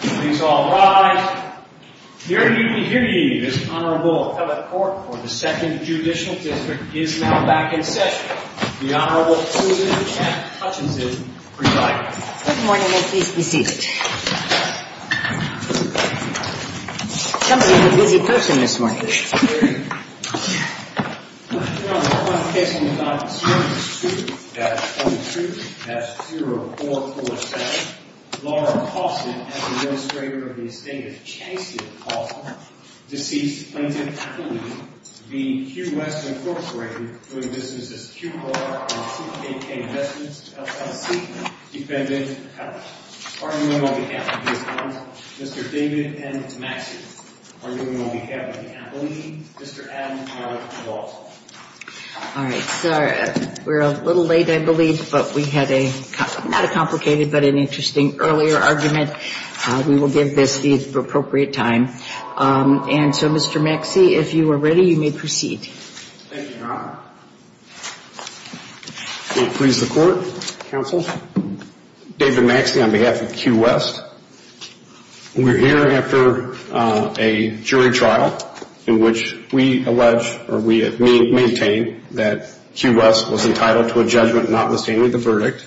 Please all rise. Dearly, we hear you. This Honorable Appellate Court for the 2nd Judicial District is now back in session. The Honorable Susan Chapman Hutchinson presides. Good morning and please be seated. Somebody's a busy person this morning. Your Honor, the prosecution is not concerned with Susan at 22-0447. Laura Pawson, as the administrator of the estate of Chancellor Pawson, deceased plaintiff, v. Q West, Inc., doing business as QR on 2KK Investments LLC, defendant, appellate. Arguing on behalf of his clients, Mr. David M. Maxey. Arguing on behalf of the appellee, Mr. Adam R. Walsh. All right. We're a little late, I believe, but we had a, not a complicated, but an interesting earlier argument. We will give this the appropriate time. And so, Mr. Maxey, if you are ready, you may proceed. Thank you, Your Honor. Please report, counsel. David Maxey on behalf of Q West. We're here after a jury trial in which we allege, or we maintain, that Q West was entitled to a judgment notwithstanding the verdict.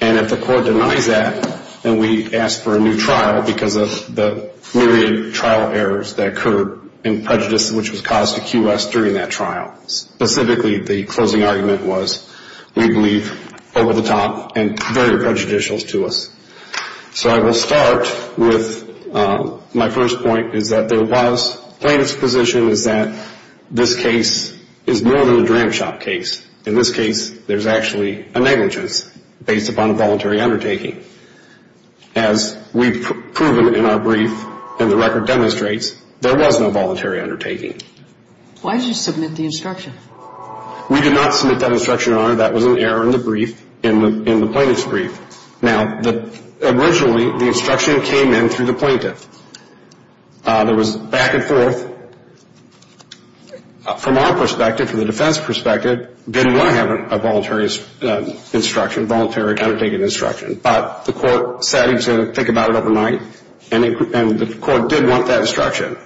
And if the court denies that, then we ask for a new trial because of the myriad trial errors that occurred and prejudice which was caused to Q West during that trial. Specifically, the closing argument was, we believe over-the-top and very prejudicial to us. So I will start with my first point is that there was plaintiff's position is that this case is more than a dram shop case. In this case, there's actually a negligence based upon a voluntary undertaking. As we've proven in our brief and the record demonstrates, there was no voluntary undertaking. Why did you submit the instruction? We did not submit that instruction, Your Honor. That was an error in the brief, in the plaintiff's brief. Now, originally, the instruction came in through the plaintiff. There was back and forth. From our perspective, from the defense perspective, didn't want to have a voluntary instruction, voluntary undertaking instruction. But the court decided to think about it overnight, and the court did want that instruction.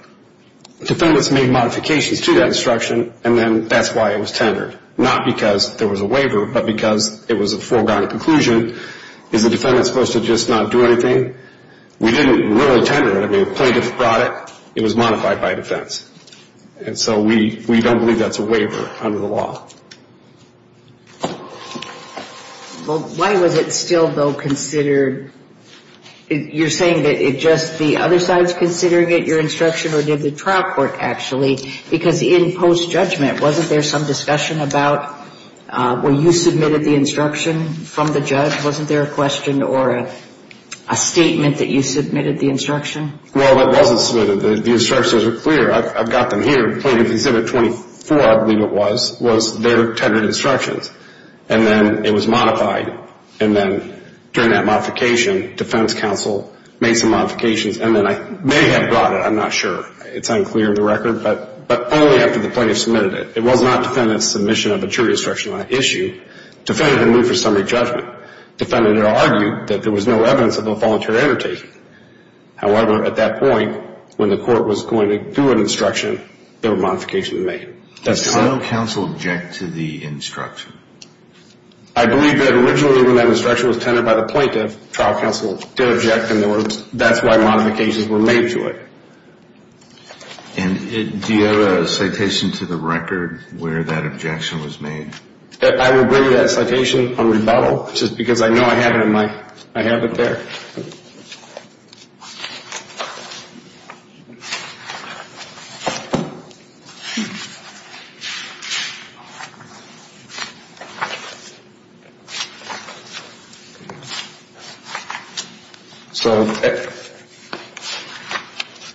Defendants made modifications to that instruction, and then that's why it was tendered. Not because there was a waiver, but because it was a foregone conclusion. Is the defendant supposed to just not do anything? We didn't really tender it. I mean, the plaintiff brought it. It was modified by defense. And so we don't believe that's a waiver under the law. Well, why was it still, though, considered? You're saying that it just the other side is considering it, your instruction, or did the trial court actually? Because in post-judgment, wasn't there some discussion about when you submitted the instruction from the judge? Wasn't there a question or a statement that you submitted the instruction? Well, it wasn't submitted. The instructions are clear. I've got them here. Plaintiff Exhibit 24, I believe it was, was their tendered instructions. And then it was modified. And then during that modification, defense counsel made some modifications. And then I may have brought it. I'm not sure. It's unclear in the record. But only after the plaintiff submitted it. It was not defendant's submission of a jury instruction on that issue. Defendant didn't move for summary judgment. Defendant argued that there was no evidence of a voluntary undertaking. However, at that point, when the court was going to do an instruction, there were modifications made. Does counsel object to the instruction? I believe that originally when that instruction was tendered by the plaintiff, trial counsel did object. And that's why modifications were made to it. And do you have a citation to the record where that objection was made? I will bring you that citation on rebuttal, just because I know I have it in my, I have it there. Okay.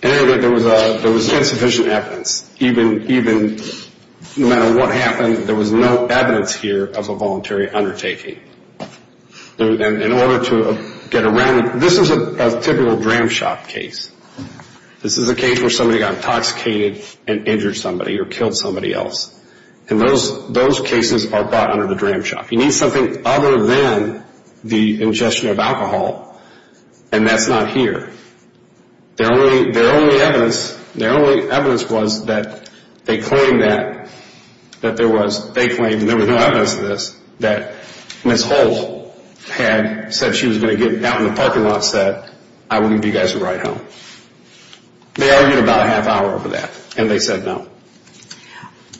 So there was insufficient evidence. Even no matter what happened, there was no evidence here of a voluntary undertaking. In order to get around, this is a typical dram shop case. This is a case where somebody got intoxicated and injured somebody or killed somebody else. And those cases are brought under the dram shop. You need something other than the ingestion of alcohol, and that's not here. Their only evidence, their only evidence was that they claimed that there was, they claimed there was no evidence of this, that Ms. Holt had said she was going to get out in the parking lot and said, I will give you guys a ride home. They argued about a half hour over that, and they said no.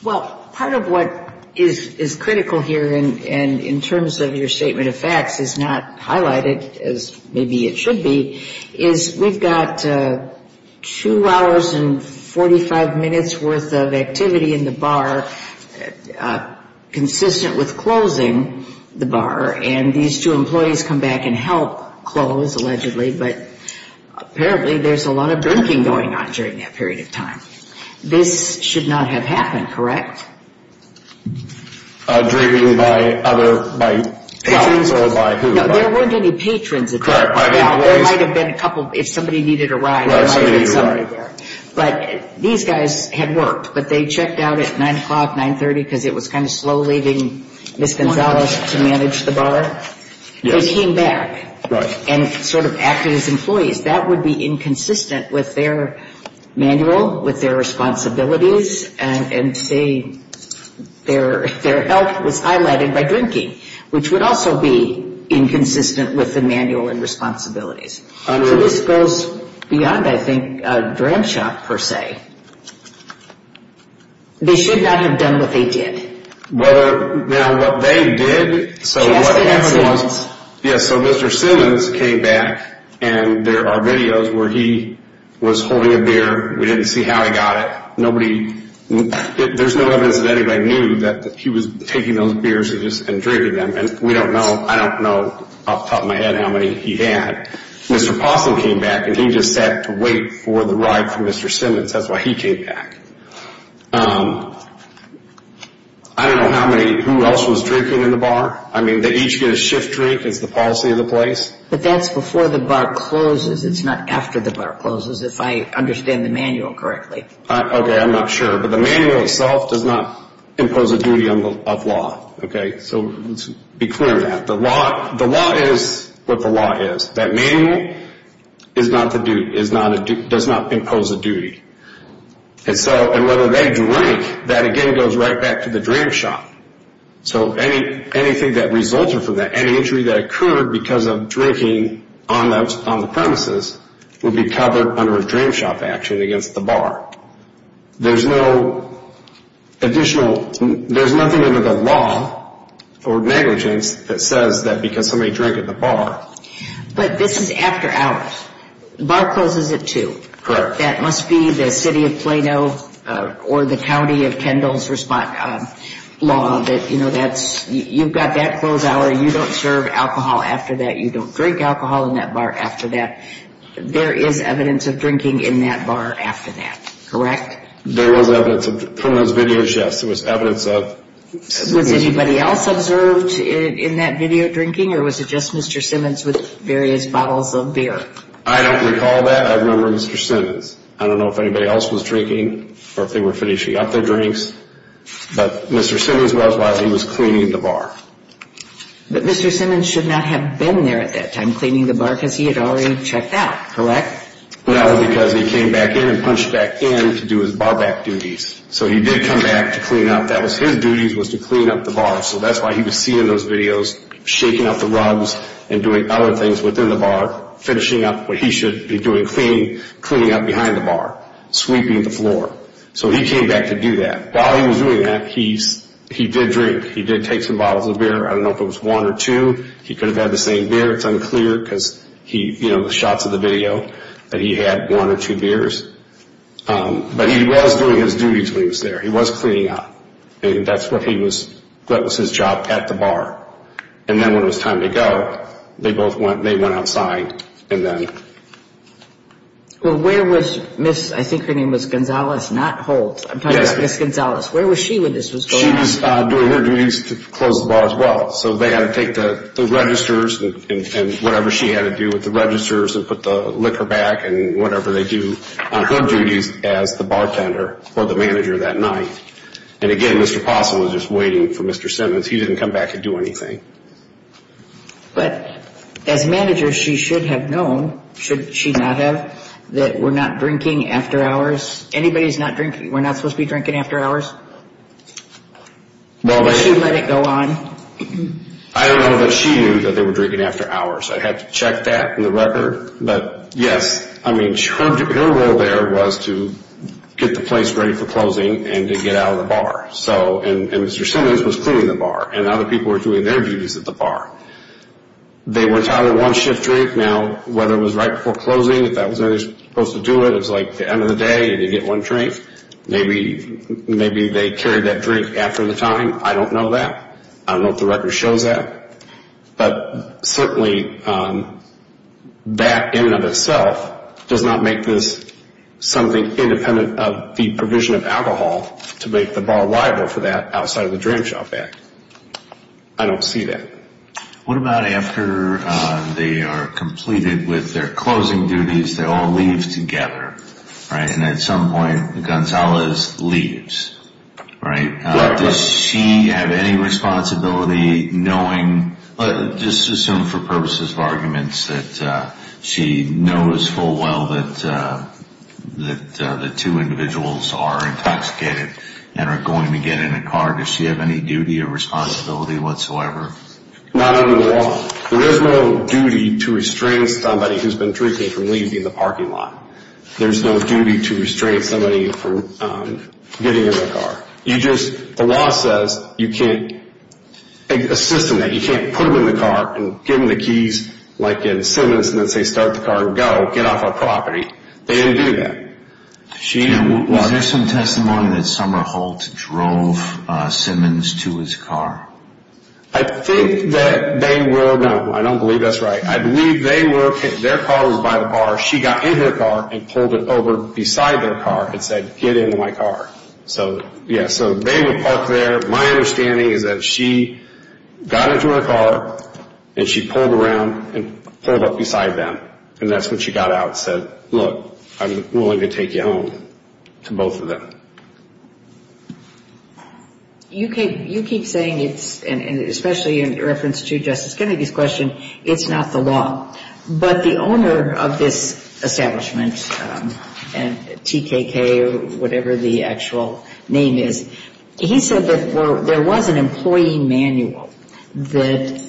Well, part of what is critical here and in terms of your statement of facts is not highlighted, as maybe it should be, is we've got two hours and 45 minutes worth of activity in the bar consistent with closing the bar, and these two employees come back and help close, allegedly, but apparently there's a lot of drinking going on during that period of time. This should not have happened, correct? Drinking by other, by patrons or by who? No, there weren't any patrons at the bar. There might have been a couple if somebody needed a ride. But these guys had worked, but they checked out at 9 o'clock, 9.30, because it was kind of slow leaving Ms. Gonzalez to manage the bar. They came back and sort of acted as employees. That would be inconsistent with their manual, with their responsibilities, and their help was highlighted by drinking, which would also be inconsistent with the manual and responsibilities. So this goes beyond, I think, a dram shop, per se. They should not have done what they did. Now, what they did, so what happened was, so Mr. Simmons came back and there are videos where he was holding a beer. We didn't see how he got it. There's no evidence that anybody knew that he was taking those beers and drinking them, and I don't know off the top of my head how many he had. Mr. Possum came back, and he just sat to wait for the ride for Mr. Simmons. That's why he came back. I don't know how many, who else was drinking in the bar. I mean, they each get a shift drink is the policy of the place. But that's before the bar closes. It's not after the bar closes, if I understand the manual correctly. Okay, I'm not sure. But the manual itself does not impose a duty of law. So let's be clear on that. The law is what the law is. That manual is not the duty, does not impose a duty. And whether they drink, that again goes right back to the drink shop. So anything that results from that, any injury that occurred because of drinking on the premises would be covered under a drink shop action against the bar. There's no additional, there's nothing under the law or negligence that says that because somebody drank at the bar. But this is after hours. The bar closes at 2. Correct. That must be the city of Plano or the county of Kendall's law that, you know, that's, you've got that closed hour, you don't serve alcohol after that, you don't drink alcohol in that bar after that. There is evidence of drinking in that bar after that, correct? There was evidence from those video shifts. Was anybody else observed in that video drinking or was it just Mr. Simmons with various bottles of beer? I don't recall that. I remember Mr. Simmons. I don't know if anybody else was drinking or if they were finishing up their drinks. But Mr. Simmons was while he was cleaning the bar. But Mr. Simmons should not have been there at that time cleaning the bar because he had already checked out, correct? No, because he came back in and punched back in to do his ball back duties. So he did come back to clean up. That was his duties was to clean up the bar. So that's why he was seen in those videos shaking up the rugs and doing other things within the bar, finishing up what he should be doing, cleaning up behind the bar, sweeping the floor. So he came back to do that. While he was doing that, he did drink. He did take some bottles of beer. I don't know if it was one or two. He could have had the same beer. It's unclear because, you know, the shots of the video that he had one or two beers. But he was doing his duties when he was there. He was cleaning up. That was his job at the bar. And then when it was time to go, they both went outside. Well, where was Ms. – I think her name was Gonzales, not Holt. I'm talking about Ms. Gonzales. Where was she when this was going on? She was doing her duties to close the bar as well. So they had to take the registers and whatever she had to do with the registers and put the liquor back and whatever they do on her duties as the bartender or the manager that night. And, again, Mr. Possum was just waiting for Mr. Simmons. He didn't come back to do anything. But as manager, she should have known, should she not have, that we're not drinking after hours? Anybody's not drinking? We're not supposed to be drinking after hours? Did she let it go on? I don't know that she knew that they were drinking after hours. I'd have to check that in the record. But, yes, I mean, her role there was to get the place ready for closing and to get out of the bar. And Mr. Simmons was cleaning the bar, and other people were doing their duties at the bar. They were entitled to one shift drink. Now, whether it was right before closing, if that was how they were supposed to do it, it was like the end of the day and you get one drink. Maybe they carried that drink after the time. I don't know that. I don't know if the record shows that. But, certainly, that in and of itself does not make this something independent of the provision of alcohol to make the bar liable for that outside of the Dram Shop Act. I don't see that. What about after they are completed with their closing duties, they all leave together, right? And at some point, Gonzalez leaves, right? Does she have any responsibility knowing, just assume for purposes of arguments, that she knows full well that the two individuals are intoxicated and are going to get in a car? Does she have any duty or responsibility whatsoever? Not under the law. There is no duty to restrain somebody who has been drinking from leaving the parking lot. There is no duty to restrain somebody from getting in a car. The law says you can't assist them in that. You can't put them in the car and give them the keys, like in Simmons, and then say, start the car, go, get off our property. They didn't do that. Was there some testimony that Summer Holt drove Simmons to his car? I think that they were, no, I don't believe that's right. I believe they were, their car was by the bar. She got in their car and pulled it over beside their car and said, get in my car. So, yeah, so they were parked there. My understanding is that she got into her car and she pulled around and pulled up beside them, and that's when she got out and said, look, I'm willing to take you home to both of them. You keep saying it's, and especially in reference to Justice Kennedy's question, it's not the law. But the owner of this establishment, TKK or whatever the actual name is, he said that there was an employee manual that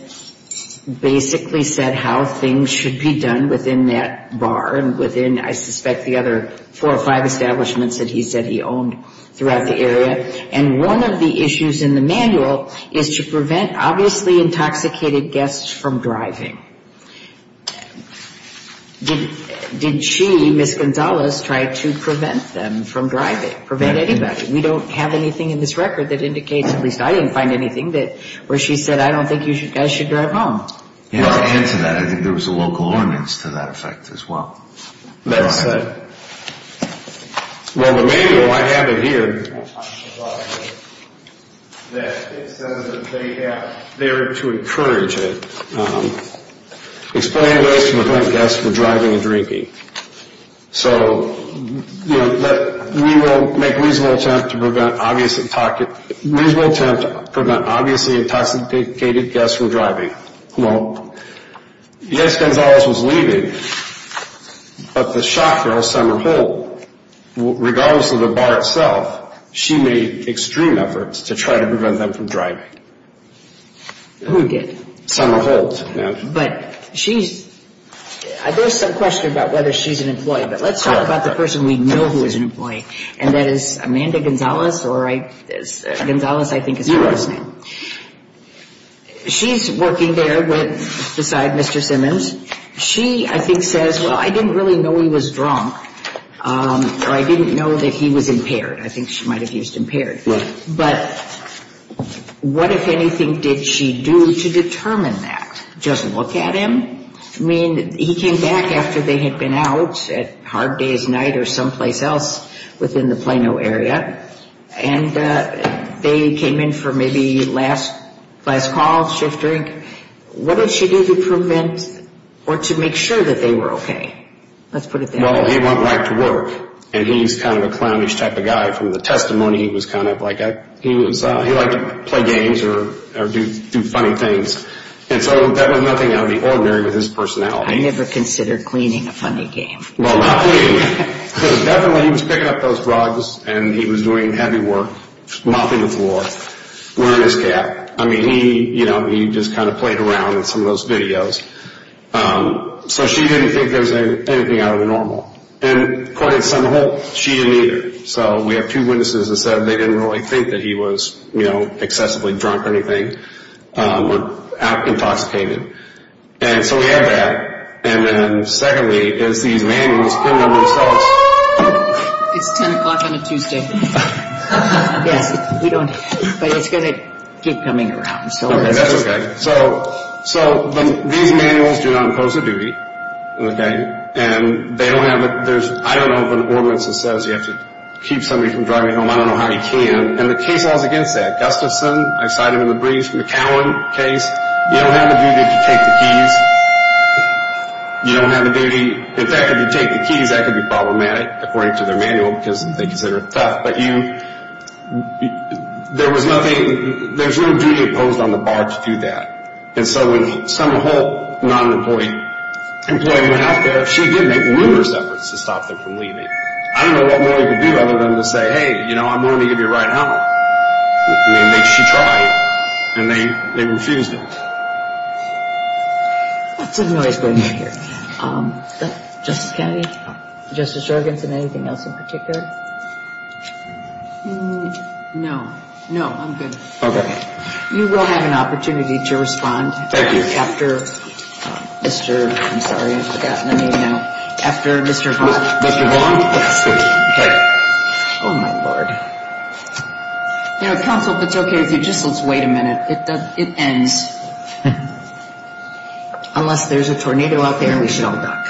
basically said how things should be done within that bar and within, I suspect, the other four or five establishments that he said he owned throughout the area. And one of the issues in the manual is to prevent obviously intoxicated guests from driving. Did she, Ms. Gonzalez, try to prevent them from driving, prevent anybody? We don't have anything in this record that indicates, at least I didn't find anything, where she said I don't think you guys should drive home. Well, in addition to that, I think there was a local ordinance to that effect as well. That said, well, the manual, I have it here, that it says that they have there to encourage it, explain ways to prevent guests from driving and drinking. So, you know, we will make a reasonable attempt to prevent obviously intoxicated guests from driving. Well, yes, Gonzalez was leaving, but the shop girl, Summer Holt, regardless of the bar itself, she made extreme efforts to try to prevent them from driving. Who did? Summer Holt. But she's, there's some question about whether she's an employee, but let's talk about the person we know who is an employee. And that is Amanda Gonzalez, or I, Gonzalez I think is her last name. Yes. She's working there beside Mr. Simmons. She, I think, says, well, I didn't really know he was drunk, or I didn't know that he was impaired. I think she might have used impaired. Right. But what, if anything, did she do to determine that? Just look at him? I mean, he came back after they had been out at hard day's night or someplace else within the Plano area, and they came in for maybe last call, shift drink. What did she do to prevent or to make sure that they were okay? Let's put it that way. Well, he went back to work, and he's kind of a clownish type of guy. From the testimony, he was kind of like, he liked to play games or do funny things. And so that was nothing out of the ordinary with his personality. I never considered cleaning a funny game. Well, not cleaning. Definitely, he was picking up those drugs, and he was doing heavy work, mopping the floor, wearing his cap. I mean, he just kind of played around in some of those videos. So she didn't think there was anything out of the normal. And according to Senator Holt, she didn't either. So we have two witnesses that said they didn't really think that he was excessively drunk or anything or intoxicated. And so we have that. And then secondly is these manuals put on themselves. It's 10 o'clock on a Tuesday. Yes, we don't, but it's going to keep coming around. Okay, that's okay. So these manuals do not impose a duty, okay? And they don't have a, there's, I don't know if an ordinance says you have to keep somebody from driving home. I don't know how you can. And the case laws against that, Gustafson, I cite him in the brief, McCowan case, you don't have a duty to take the keys. You don't have a duty. In fact, if you take the keys, that could be problematic, according to their manual, because they consider it tough. But you, there was nothing, there was no duty imposed on the bar to do that. And so when Senator Holt, not an employee, went out there, she did make numerous efforts to stop them from leaving. I don't know what more you could do other than to say, hey, you know, I'm willing to give you a ride home. I mean, she tried. And they refused it. Lots of noise going on here. Justice Kennedy, Justice Jorgensen, anything else in particular? No, no, I'm good. Okay. You will have an opportunity to respond. Thank you. After Mr., I'm sorry, I've forgotten the name now. After Mr. Vaughn. Mr. Vaughn? Yes, thank you. Oh, my Lord. You know, counsel, if it's okay with you, just let's wait a minute. It ends. Unless there's a tornado out there, we shall duck.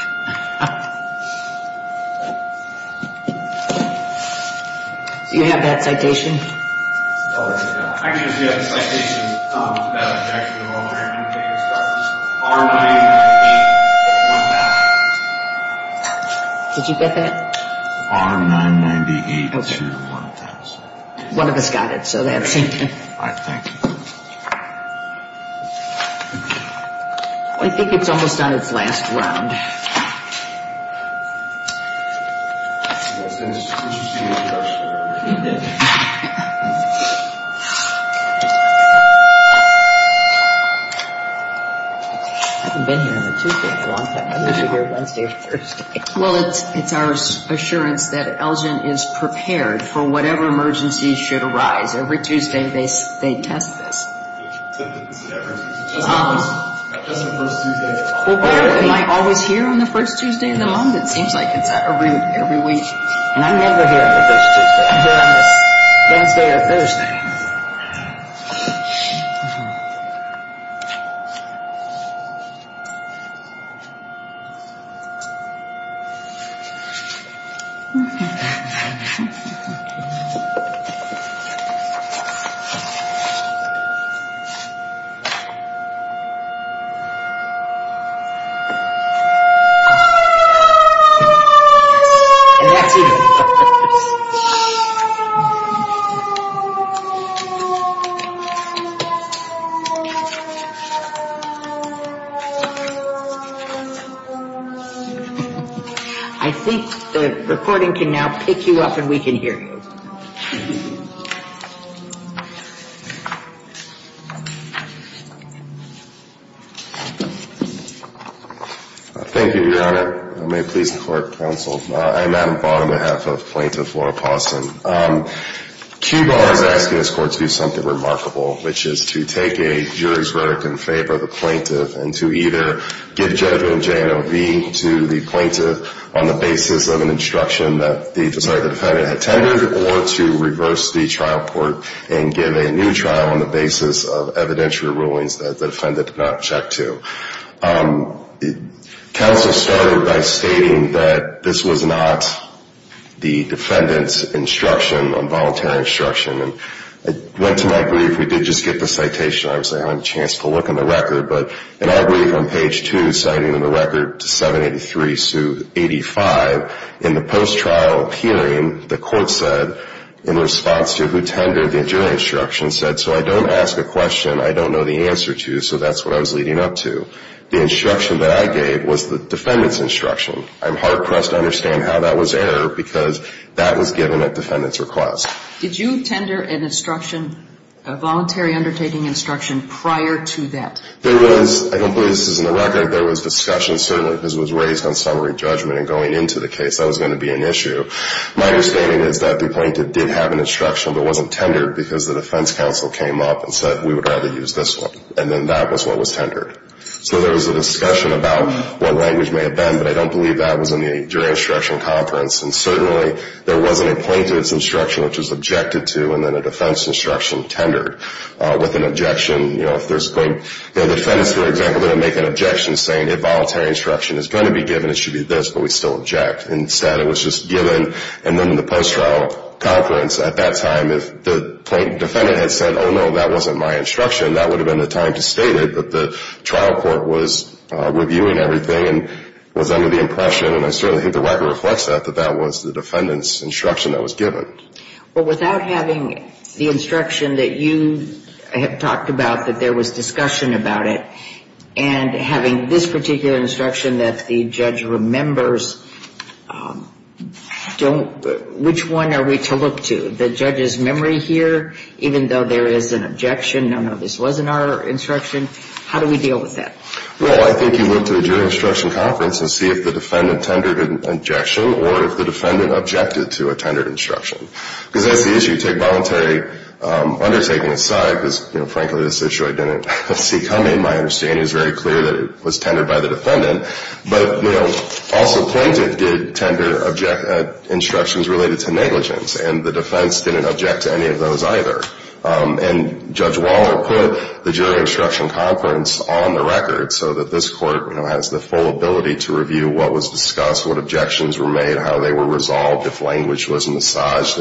Do you have that citation? Oh, yes, I do. Actually, we have the citation. That objection of all our indicators. R-9-8-1-0. Did you get that? R-9-9-8-2-1-0. One of us got it, so that's it. All right, thank you. I think it's almost on its last round. I haven't been here on a Tuesday in a long time. I'm usually here Wednesday or Thursday. Well, it's our assurance that Elgin is prepared for whatever emergency should arise. Every Tuesday they test this. Just on the first Tuesday. Am I always here on the first Tuesday of the month? It seems like it's every week. And I'm never here on the first Tuesday. I'm here on Wednesday or Thursday. I think the recording can now pick you up and we can hear you. Thank you, Your Honor. May it please the court, counsel. I'm Adam Vaughn, on behalf of Plaintiff Laura Paustin. QBAR is asking this court to do something remarkable, which is to take a jury's rhetoric in favor of the plaintiff and to either give judgment in J&OV to the plaintiff on the basis of an instruction that the defendant had tendered or to reverse the trial court and give a new trial on the basis of evidentiary rulings that the defendant did not check to. Counsel started by stating that this was not the defendant's instruction, involuntary instruction. I went to my brief. We did just get the citation. I obviously haven't had a chance to look in the record. But in our brief on page 2, citing in the record 783-85, in the post-trial hearing, the court said, in response to who tendered the jury instruction, said, so I don't ask a question I don't know the answer to, so that's what I was leading up to. The instruction that I gave was the defendant's instruction. I'm hard-pressed to understand how that was error because that was given at defendant's request. Did you tender an instruction, a voluntary undertaking instruction, prior to that? There was. I don't believe this is in the record. There was discussion, certainly, because it was raised on summary judgment. And going into the case, that was going to be an issue. My understanding is that the plaintiff did have an instruction, but it wasn't tendered because the defense counsel came up and said we would rather use this one. And then that was what was tendered. So there was a discussion about what language may have been, but I don't believe that was in the jury instruction conference. And certainly there wasn't a plaintiff's instruction, which was objected to, and then a defense instruction tendered with an objection. You know, if there's a point, the defendants, for example, didn't make an objection saying a voluntary instruction is going to be given, it should be this, but we still object. Instead, it was just given, and then the post-trial conference at that time, if the defendant had said, oh, no, that wasn't my instruction, that would have been the time to state it, but the trial court was reviewing everything and was under the impression, and I certainly think the record reflects that, that that was the defendant's instruction that was given. Well, without having the instruction that you have talked about, that there was discussion about it, and having this particular instruction that the judge remembers, which one are we to look to? The judge's memory here, even though there is an objection, no, no, this wasn't our instruction, how do we deal with that? Well, I think you look to the jury instruction conference and see if the defendant tendered an objection or if the defendant objected to a tendered instruction. Because that's the issue, you take voluntary undertaking aside, because, you know, frankly, this issue I didn't see coming. My understanding is very clear that it was tendered by the defendant, but, you know, also plaintiff did tender instructions related to negligence, and the defense didn't object to any of those either. And Judge Waller put the jury instruction conference on the record so that this court, you know, has the full ability to review what was discussed, what objections were made, how they were resolved, if language was massaged,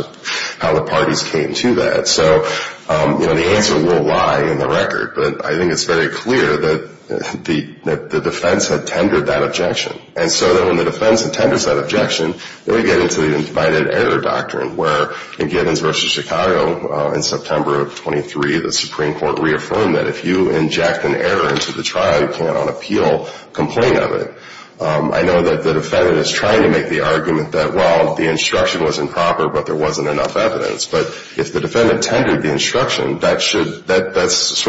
how the parties came to that. So, you know, the answer will lie in the record, but I think it's very clear that the defense had tendered that objection. And so then when the defense tenders that objection, they get into the invited error doctrine, where in Gibbons v. Chicago in September of 23, the Supreme Court reaffirmed that if you inject an error into the trial, you can't on appeal complain of it. I know that the defendant is trying to make the argument that, well, the instruction was improper, but there wasn't enough evidence. But if the defendant tendered the instruction, that's sort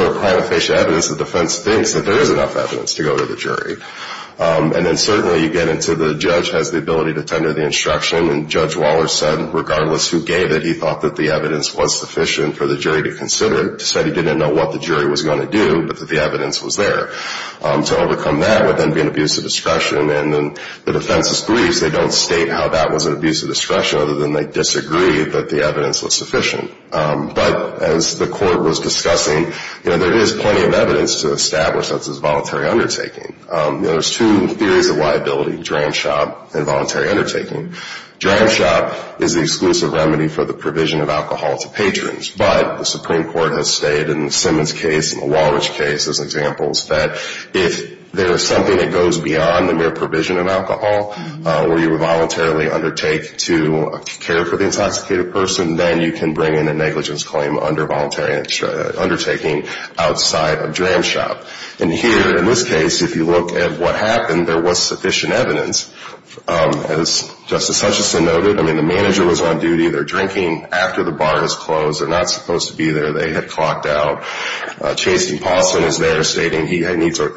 of prima facie evidence the defense thinks that there is enough evidence to go to the jury. And then certainly you get into the judge has the ability to tender the instruction, and Judge Waller said regardless who gave it, he thought that the evidence was sufficient for the jury to consider. He said he didn't know what the jury was going to do, but that the evidence was there. To overcome that would then be an abuse of discretion, and then the defense's briefs, they don't state how that was an abuse of discretion, other than they disagree that the evidence was sufficient. But as the court was discussing, you know, there is plenty of evidence to establish that this is voluntary undertaking. You know, there's two theories of liability, dram shop and voluntary undertaking. Dram shop is the exclusive remedy for the provision of alcohol to patrons, but the Supreme Court has stated in the Simmons case and the Walrich case as examples that if there is something that goes beyond the mere provision of alcohol, where you voluntarily undertake to care for the intoxicated person, then you can bring in a negligence claim under voluntary undertaking outside of dram shop. And here in this case, if you look at what happened, there was sufficient evidence. As Justice Hutchinson noted, I mean, the manager was on duty, they're drinking after the bar is closed. They're not supposed to be there. They had clocked out. Chasey Paulson is there stating he needs a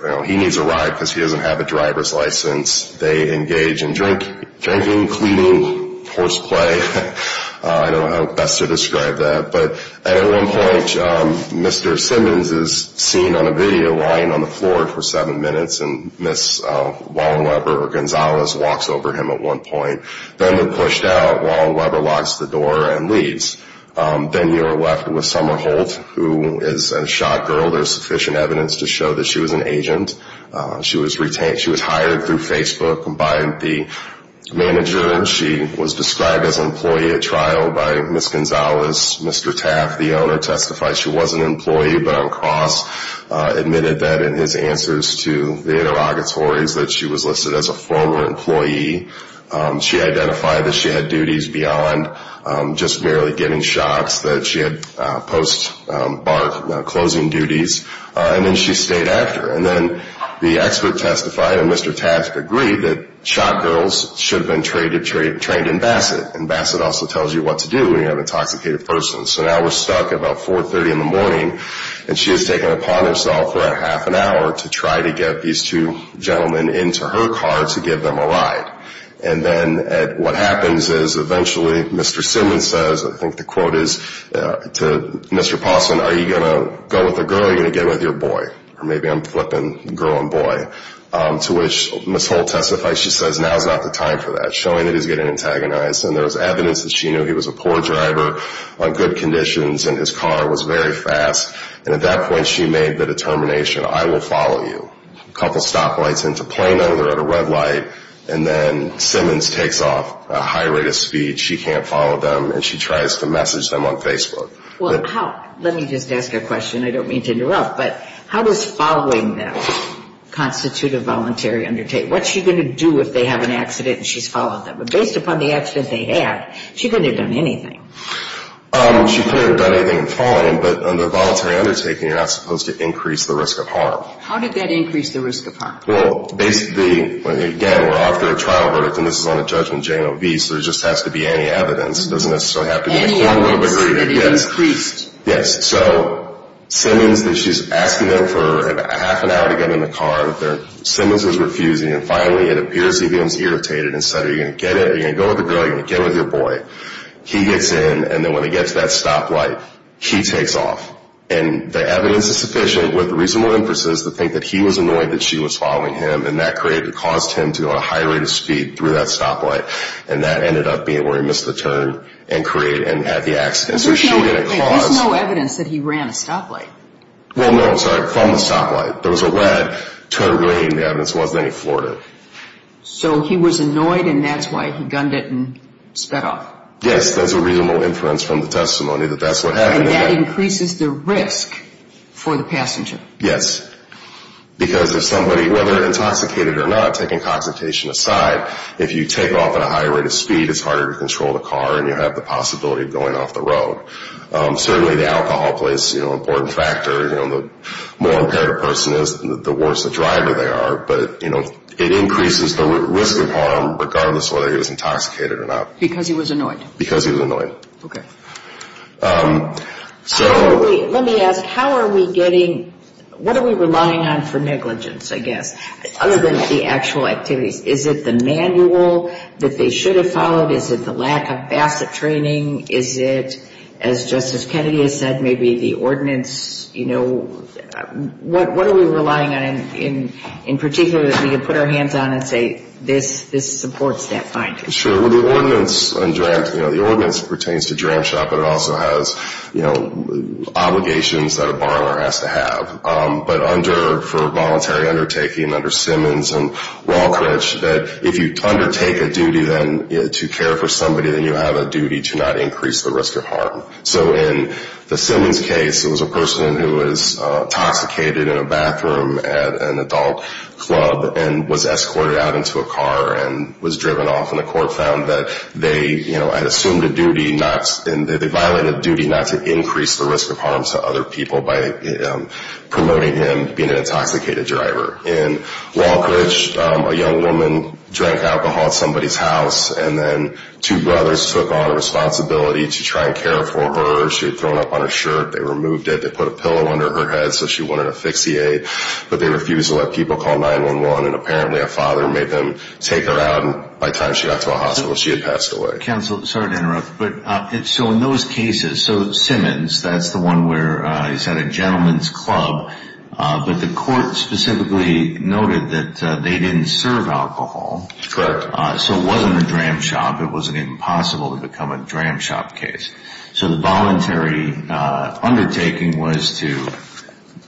ride because he doesn't have a driver's license. They engage in drinking, cleaning, horseplay. I don't know how best to describe that. But at one point, Mr. Simmons is seen on a video lying on the floor for seven minutes, and Ms. Wallenweber, or Gonzalez, walks over him at one point. Then they're pushed out. Wallenweber locks the door and leaves. Then you're left with Summer Holt, who is a shot girl. There's sufficient evidence to show that she was an agent. She was hired through Facebook by the manager. She was described as an employee at trial by Ms. Gonzalez. Mr. Taft, the owner, testified she was an employee, but on cross admitted that in his answers to the interrogatories that she was listed as a former employee. She identified that she had duties beyond just merely giving shots, that she had post-bar closing duties. And then she stayed after. And then the expert testified, and Mr. Taft agreed, that shot girls should have been trained in Bassett. And Bassett also tells you what to do when you're an intoxicated person. So now we're stuck at about 4.30 in the morning, and she has taken it upon herself for half an hour to try to get these two gentlemen into her car to give them a ride. And then what happens is eventually Mr. Simmons says, I think the quote is, to Mr. Paulson, are you going to go with a girl or are you going to get with your boy? Or maybe I'm flipping girl and boy. To which Ms. Holt testified, she says, now is not the time for that. Showing that he's getting antagonized. And there was evidence that she knew he was a poor driver on good conditions, and his car was very fast. And at that point she made the determination, I will follow you. A couple stoplights into Plano. They're at a red light. And then Simmons takes off at a high rate of speed. She can't follow them, and she tries to message them on Facebook. Well, let me just ask a question. I don't mean to interrupt, but how does following them constitute a voluntary undertaking? What's she going to do if they have an accident and she's followed them? But based upon the accident they had, she couldn't have done anything. She couldn't have done anything in following them, but under a voluntary undertaking you're not supposed to increase the risk of harm. How did that increase the risk of harm? Well, basically, again, we're after a trial verdict, and this is on a judgment J-O-V, so there just has to be any evidence. It doesn't necessarily have to be in a courtroom agreement. Any evidence that it increased. Yes. So Simmons, she's asking them for half an hour to get in the car. Simmons is refusing, and finally it appears he becomes irritated and said, are you going to go with the girl or are you going to get with your boy? He gets in, and then when he gets to that stoplight, he takes off. And the evidence is sufficient with reasonable inferences to think that he was annoyed that she was following him and that caused him to go at a high rate of speed through that stoplight, and that ended up being where he missed the turn and had the accident. There's no evidence that he ran a stoplight. Well, no, I'm sorry, from the stoplight. There was a lead to her lane. The evidence wasn't any Florida. So he was annoyed, and that's why he gunned it and sped off. Yes, there's a reasonable inference from the testimony that that's what happened. And that increases the risk for the passenger. Yes, because if somebody, whether intoxicated or not, taking concentration aside, if you take off at a high rate of speed, it's harder to control the car and you have the possibility of going off the road. Certainly the alcohol plays an important factor. The more impaired a person is, the worse a driver they are. But, you know, it increases the risk of harm regardless of whether he was intoxicated or not. Because he was annoyed. Because he was annoyed. Okay. Let me ask, how are we getting – what are we relying on for negligence, I guess, other than the actual activities? Is it the manual that they should have followed? Is it the lack of VASTA training? Is it, as Justice Kennedy has said, maybe the ordinance? You know, what are we relying on in particular that we can put our hands on and say this supports that finding? Sure. Well, the ordinance pertains to Dram Shop, but it also has, you know, obligations that a borrower has to have. But under – for voluntary undertaking, under Simmons and Walcrich, that if you undertake a duty then to care for somebody, then you have a duty to not increase the risk of harm. So in the Simmons case, it was a person who was intoxicated in a bathroom at an adult club and was escorted out into a car and was driven off. And the court found that they, you know, had assumed a duty not – they violated a duty not to increase the risk of harm to other people by promoting him being an intoxicated driver. In Walcrich, a young woman drank alcohol at somebody's house, and then two brothers took on a responsibility to try and care for her. She was thrown up on a shirt. They removed it. They put a pillow under her head so she wouldn't asphyxiate. But they refused to let people call 911, and apparently a father made them take her out, and by the time she got to a hospital, she had passed away. Counsel, sorry to interrupt. But so in those cases, so Simmons, that's the one where he's at a gentleman's club, but the court specifically noted that they didn't serve alcohol. Correct. So it wasn't a dram shop. It wasn't even possible to become a dram shop case. So the voluntary undertaking was to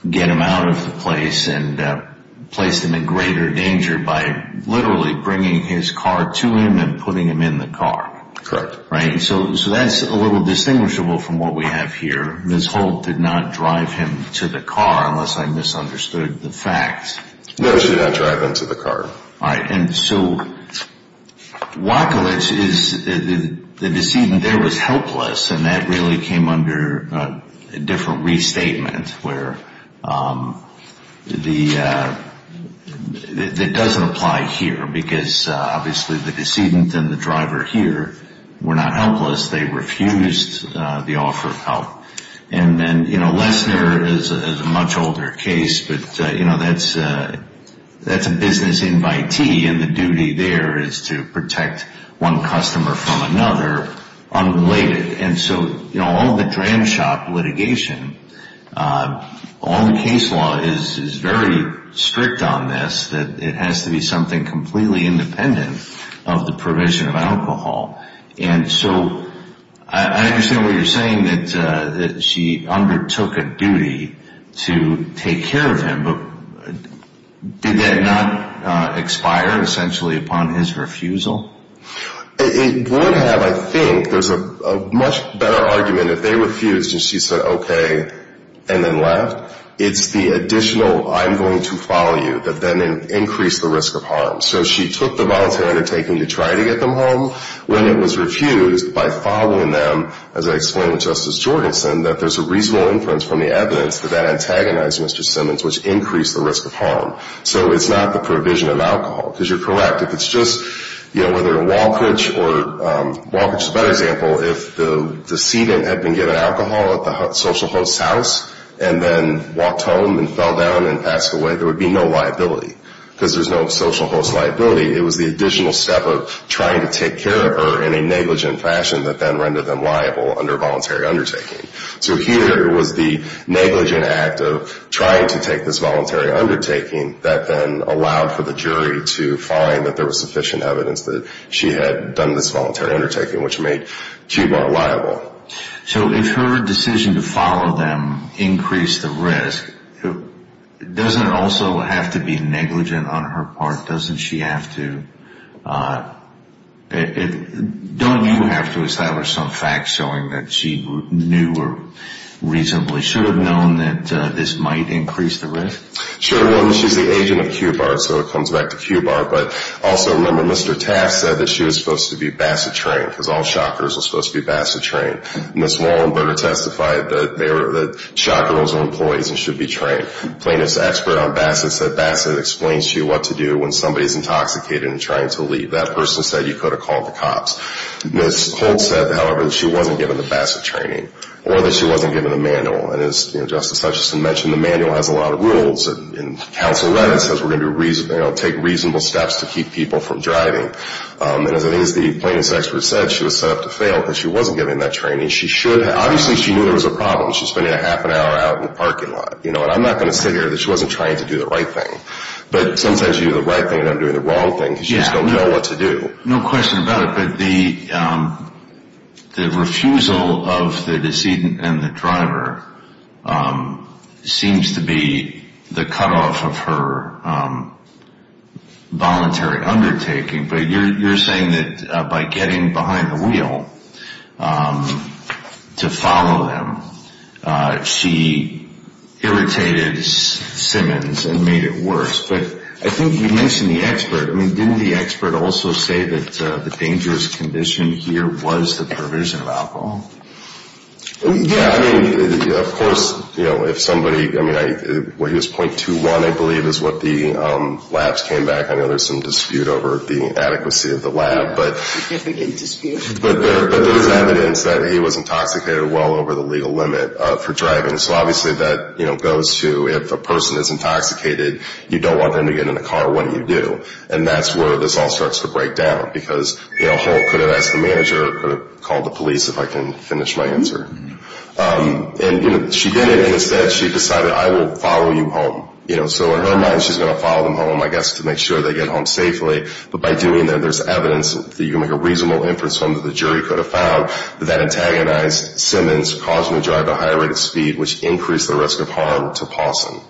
get him out of the place and place him in greater danger by literally bringing his car to him and putting him in the car. Correct. Right? So that's a little distinguishable from what we have here. Ms. Holt did not drive him to the car, unless I misunderstood the facts. No, she did not drive him to the car. All right. And so Wachowicz, the decedent there was helpless, and that really came under a different restatement where the – it doesn't apply here because obviously the decedent and the driver here were not helpless. They refused the offer of help. And then, you know, Lesner is a much older case, but, you know, that's a business invitee, and the duty there is to protect one customer from another unrelated. And so, you know, all the dram shop litigation, all the case law is very strict on this, that it has to be something completely independent of the provision of alcohol. And so I understand what you're saying, that she undertook a duty to take care of him, but did that not expire essentially upon his refusal? It would have, I think. There's a much better argument if they refused and she said okay and then left. It's the additional I'm going to follow you that then increased the risk of harm. So she took the voluntary undertaking to try to get them home. When it was refused, by following them, as I explained with Justice Jorgensen, that there's a reasonable inference from the evidence that that antagonized Mr. Simmons, which increased the risk of harm. So it's not the provision of alcohol, because you're correct. If it's just, you know, whether in Walkeridge or – Walkeridge is a better example. If the decedent had been given alcohol at the social host's house and then walked home and fell down and passed away, there would be no liability because there's no social host liability. It was the additional step of trying to take care of her in a negligent fashion that then rendered them liable under voluntary undertaking. So here it was the negligent act of trying to take this voluntary undertaking that then allowed for the jury to find that there was sufficient evidence that she had done this voluntary undertaking, which made QBAR liable. So if her decision to follow them increased the risk, doesn't it also have to be negligent on her part? Doesn't she have to – don't you have to establish some facts showing that she knew or reasonably should have known that this might increase the risk? Sure. One, she's the agent of QBAR, so it comes back to QBAR. But also, remember, Mr. Taft said that she was supposed to be basset trained because all shotgunners were supposed to be basset trained. Ms. Wallenberger testified that shotgunners were employees and should be trained. Plaintiff's expert on basset said basset explains to you what to do when somebody is intoxicated and trying to leave. That person said you could have called the cops. Ms. Holt said, however, that she wasn't given the basset training or that she wasn't given the manual. And as Justice Hutchison mentioned, the manual has a lot of rules, and counsel read it and says we're going to take reasonable steps to keep people from driving. And as it is, the plaintiff's expert said she was set up to fail because she wasn't given that training. Obviously, she knew there was a problem. She's spending a half an hour out in the parking lot. And I'm not going to sit here that she wasn't trained to do the right thing. But sometimes you do the right thing and I'm doing the wrong thing because you just don't know what to do. No question about it, but the refusal of the decedent and the driver seems to be the cutoff of her voluntary undertaking. But you're saying that by getting behind the wheel to follow him, she irritated Simmons and made it worse. But I think you mentioned the expert. Didn't the expert also say that the dangerous condition here was the perversion of alcohol? Yeah, I mean, of course, you know, if somebody, I mean, when he was .21, I believe, is what the labs came back. I know there's some dispute over the adequacy of the lab. But there's evidence that he was intoxicated well over the legal limit for driving. So obviously that, you know, goes to if a person is intoxicated, you don't want them to get in the car, what do you do? And that's where this all starts to break down because, you know, could have asked the manager or could have called the police if I can finish my answer. And she didn't. Instead, she decided, I will follow you home. So in her mind, she's going to follow them home, I guess, to make sure they get home safely. But by doing that, there's evidence that you can make a reasonable inference from that the jury could have found that that antagonized Simmons, caused him to drive at a higher rate of speed, which increased the risk of harm to Pawson.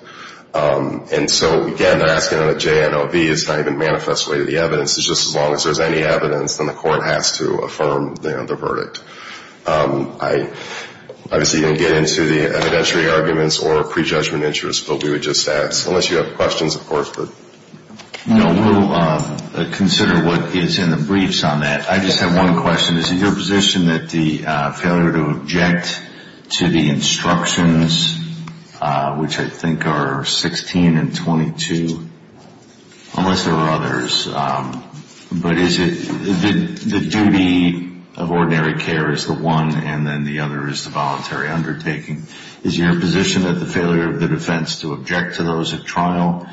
And so, again, they're asking on a JNOV. It's not even manifest way to the evidence. It's just as long as there's any evidence, then the court has to affirm the verdict. I obviously didn't get into the evidentiary arguments or prejudgment interest, but we would just ask, unless you have questions, of course. No, we'll consider what is in the briefs on that. I just have one question. Is it your position that the failure to object to the instructions, which I think are 16 and 22, unless there are others, but the duty of ordinary care is the one and then the other is the voluntary undertaking. Is your position that the failure of the defense to object to those at trial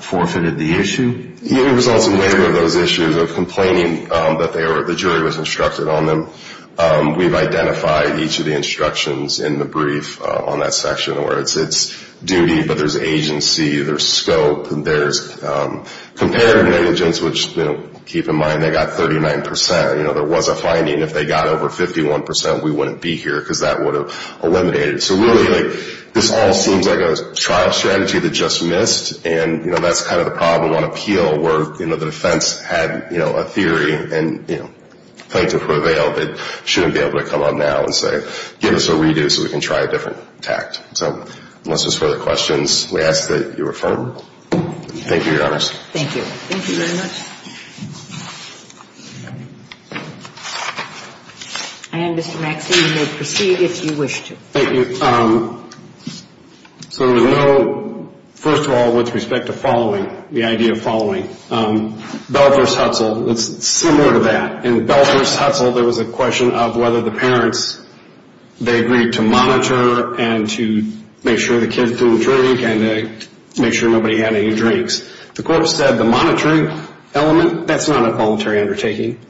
forfeited the issue? It results in neither of those issues of complaining that the jury was instructed on them. We've identified each of the instructions in the brief on that section, where it's duty, but there's agency, there's scope, there's comparative negligence, which, keep in mind, they got 39%. There was a finding. If they got over 51%, we wouldn't be here because that would have eliminated it. So, really, this all seems like a trial strategy that just missed, and that's kind of the problem on appeal where the defense had a theory and claimed to prevail but shouldn't be able to come on now and say, give us a redo so we can try a different tact. So, unless there's further questions, we ask that you refer. Thank you, Your Honors. Thank you. Thank you very much. And, Mr. Maxey, you may proceed if you wish to. Thank you. So there was no, first of all, with respect to following, the idea of following. Belfer's Hustle, it's similar to that. In Belfer's Hustle, there was a question of whether the parents, they agreed to monitor and to make sure the kids didn't drink and to make sure nobody had any drinks. The court said the monitoring element, that's not a voluntary undertaking,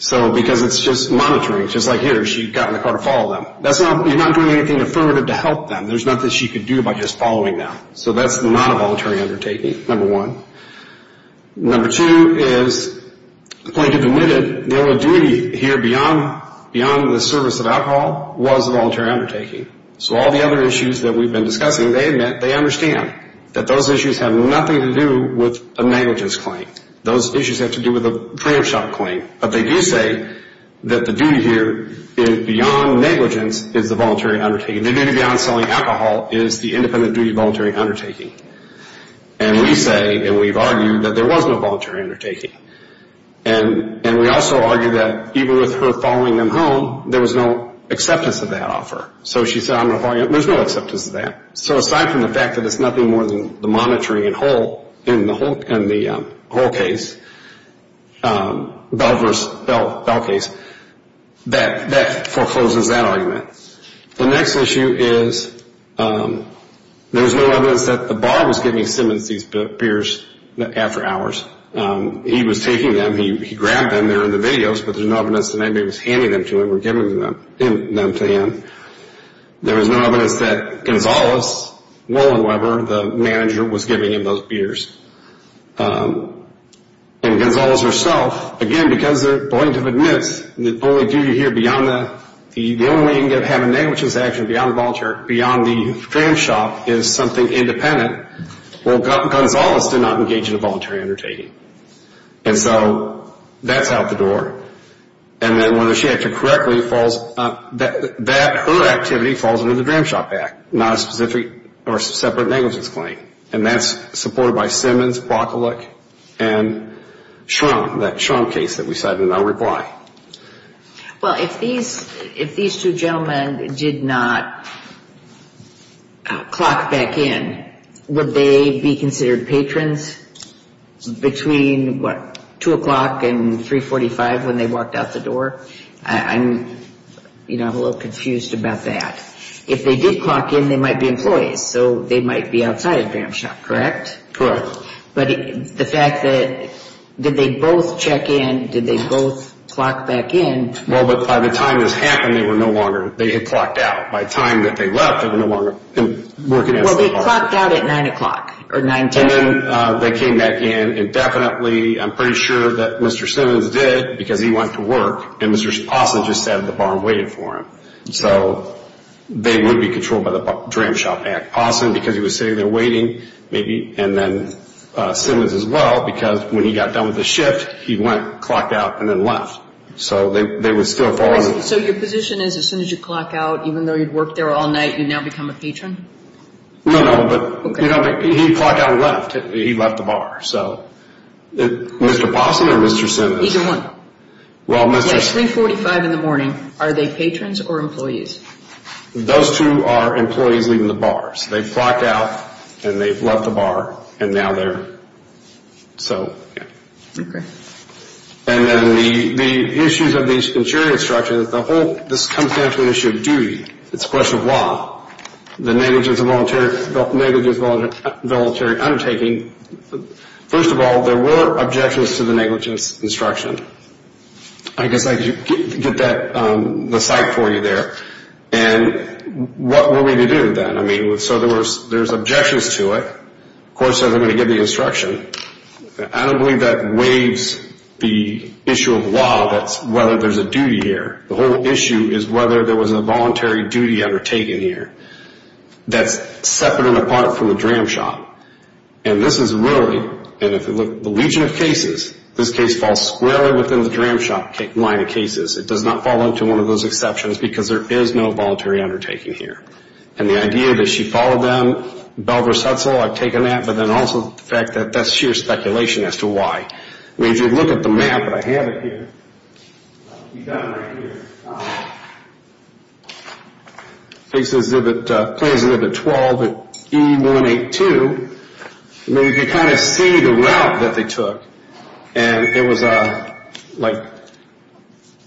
because it's just monitoring. Just like here, she got in the car to follow them. You're not doing anything affirmative to help them. There's nothing she could do by just following them. So that's not a voluntary undertaking, number one. Number two is the plaintiff admitted the only duty here beyond the service of alcohol was a voluntary undertaking. So all the other issues that we've been discussing, they admit, they understand that those issues have nothing to do with a negligence claim. Those issues have to do with a preemption claim. But they do say that the duty here is beyond negligence is the voluntary undertaking. The duty beyond selling alcohol is the independent duty voluntary undertaking. And we say, and we've argued, that there was no voluntary undertaking. And we also argue that even with her following them home, there was no acceptance of that offer. So she said, I'm going to follow you. There's no acceptance of that. So aside from the fact that it's nothing more than the monitoring in the whole case, Bell v. Bell case, that forecloses that argument. The next issue is there's no evidence that the bar was giving Simmons these beers after hours. He was taking them. He grabbed them. They're in the videos. But there's no evidence that anybody was handing them to him or giving them to him. There was no evidence that Gonzales, Will and Weber, the manager, was giving him those beers. And Gonzales herself, again, because the plaintiff admits, the only way you can have a negligence action beyond the dram shop is something independent. Well, Gonzales did not engage in a voluntary undertaking. And so that's out the door. And then whether she acted correctly, that her activity falls under the dram shop act, not a specific or separate negligence claim. And that's supported by Simmons, Broccolik and Trump, that Trump case that we cited in our reply. Well, if these two gentlemen did not clock back in, would they be considered patrons between, what, 2 o'clock and 345 when they walked out the door? I'm a little confused about that. If they did clock in, they might be employees. So they might be outside of dram shop, correct? Correct. But the fact that did they both check in? Did they both clock back in? Well, but by the time this happened, they were no longer. They had clocked out. By the time that they left, they were no longer working at the bar. Well, they clocked out at 9 o'clock or 910. And then they came back in. And definitely, I'm pretty sure that Mr. Simmons did because he went to work. And Mr. Sposna just sat at the bar and waited for him. So they would be controlled by the dram shop. Sposna, because he was sitting there waiting, maybe, and then Simmons as well, because when he got done with his shift, he went, clocked out, and then left. So they were still following. So your position is as soon as you clock out, even though you'd worked there all night, you'd now become a patron? No, no, but he clocked out and left. He left the bar. So Mr. Sposna or Mr. Simmons? Either one. At 345 in the morning, are they patrons or employees? Those two are employees leaving the bar. So they've clocked out and they've left the bar, and now they're so. Okay. And then the issues of the insuring instructions, the whole, this comes down to an issue of duty. It's a question of law. The negligence of voluntary undertaking. First of all, there were objections to the negligence instruction. I guess I could get that aside for you there. And what were we to do then? So there's objections to it. Of course, they're going to give the instruction. I don't believe that waives the issue of law, that's whether there's a duty here. The whole issue is whether there was a voluntary duty undertaken here. That's separate and apart from the dram shop. And this is really, and if you look at the legion of cases, this case falls squarely within the dram shop line of cases. It does not fall into one of those exceptions because there is no voluntary undertaking here. And the idea that she followed them, Belvers Hutzel, I've taken that, but then also the fact that that's sheer speculation as to why. I mean, if you look at the map, and I have it here. You've got it right here. Case Exhibit 12 at E182. I mean, you can kind of see the route that they took. And it was a, like,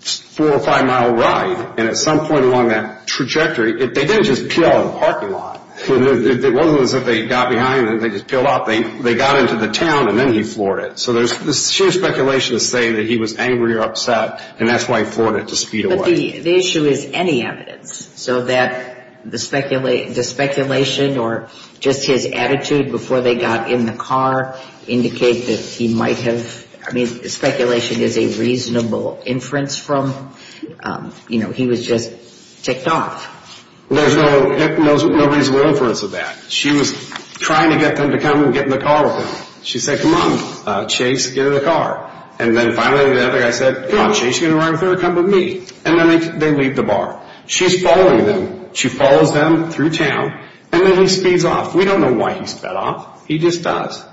four or five-mile ride. And at some point along that trajectory, they didn't just peel out of the parking lot. It wasn't as if they got behind and they just peeled off. They got into the town and then he floored it. So there's sheer speculation to say that he was angry or upset, and that's why he floored it to speed away. But the issue is any evidence so that the speculation or just his attitude before they got in the car indicate that he might have... I mean, speculation is a reasonable inference from, you know, he was just ticked off. There's no reasonable inference of that. She was trying to get them to come and get in the car with him. She said, come on, Chase, get in the car. And then finally the other guy said, come on, Chase, you're going to ride with her or come with me? And then they leave the bar. She's following them. She follows them through town, and then he speeds off. We don't know why he sped off. He just does.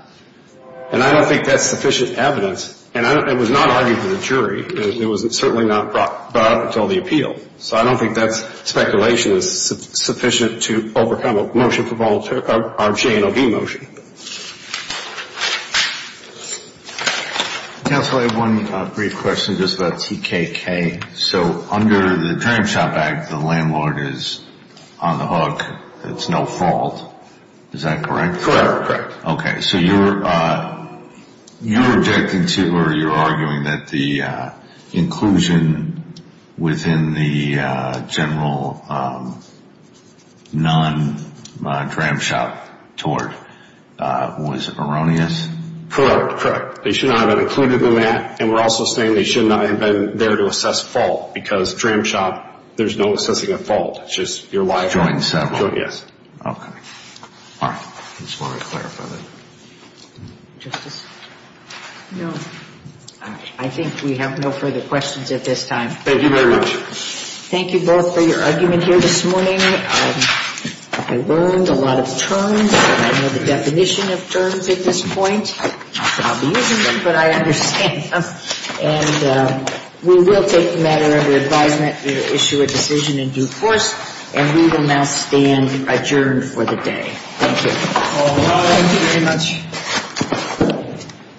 And I don't think that's sufficient evidence. And it was not argued to the jury. It was certainly not brought up until the appeal. So I don't think that speculation is sufficient to overcome a motion for voluntary or J&OB motion. Counsel, I have one brief question just about TKK. So under the Dram Shop Act, the landlord is on the hook. It's no fault. Is that correct? Correct. Okay. So you're objecting to or you're arguing that the inclusion within the general non-Dram Shop tort was erroneous? Correct. Correct. They should not have been included in that. And we're also saying they should not have been there to assess fault because Dram Shop, there's no assessing a fault. It's just your liability. Joined the settlement. Yes. Okay. All right. I just wanted to clarify that. Justice? No. All right. I think we have no further questions at this time. Thank you very much. Thank you both for your argument here this morning. I learned a lot of terms. I know the definition of terms at this point. I'll be using them, but I understand them. And we will take the matter under advisement to issue a decision in due course. And we will now stand adjourned for the day. Thank you. Thank you very much.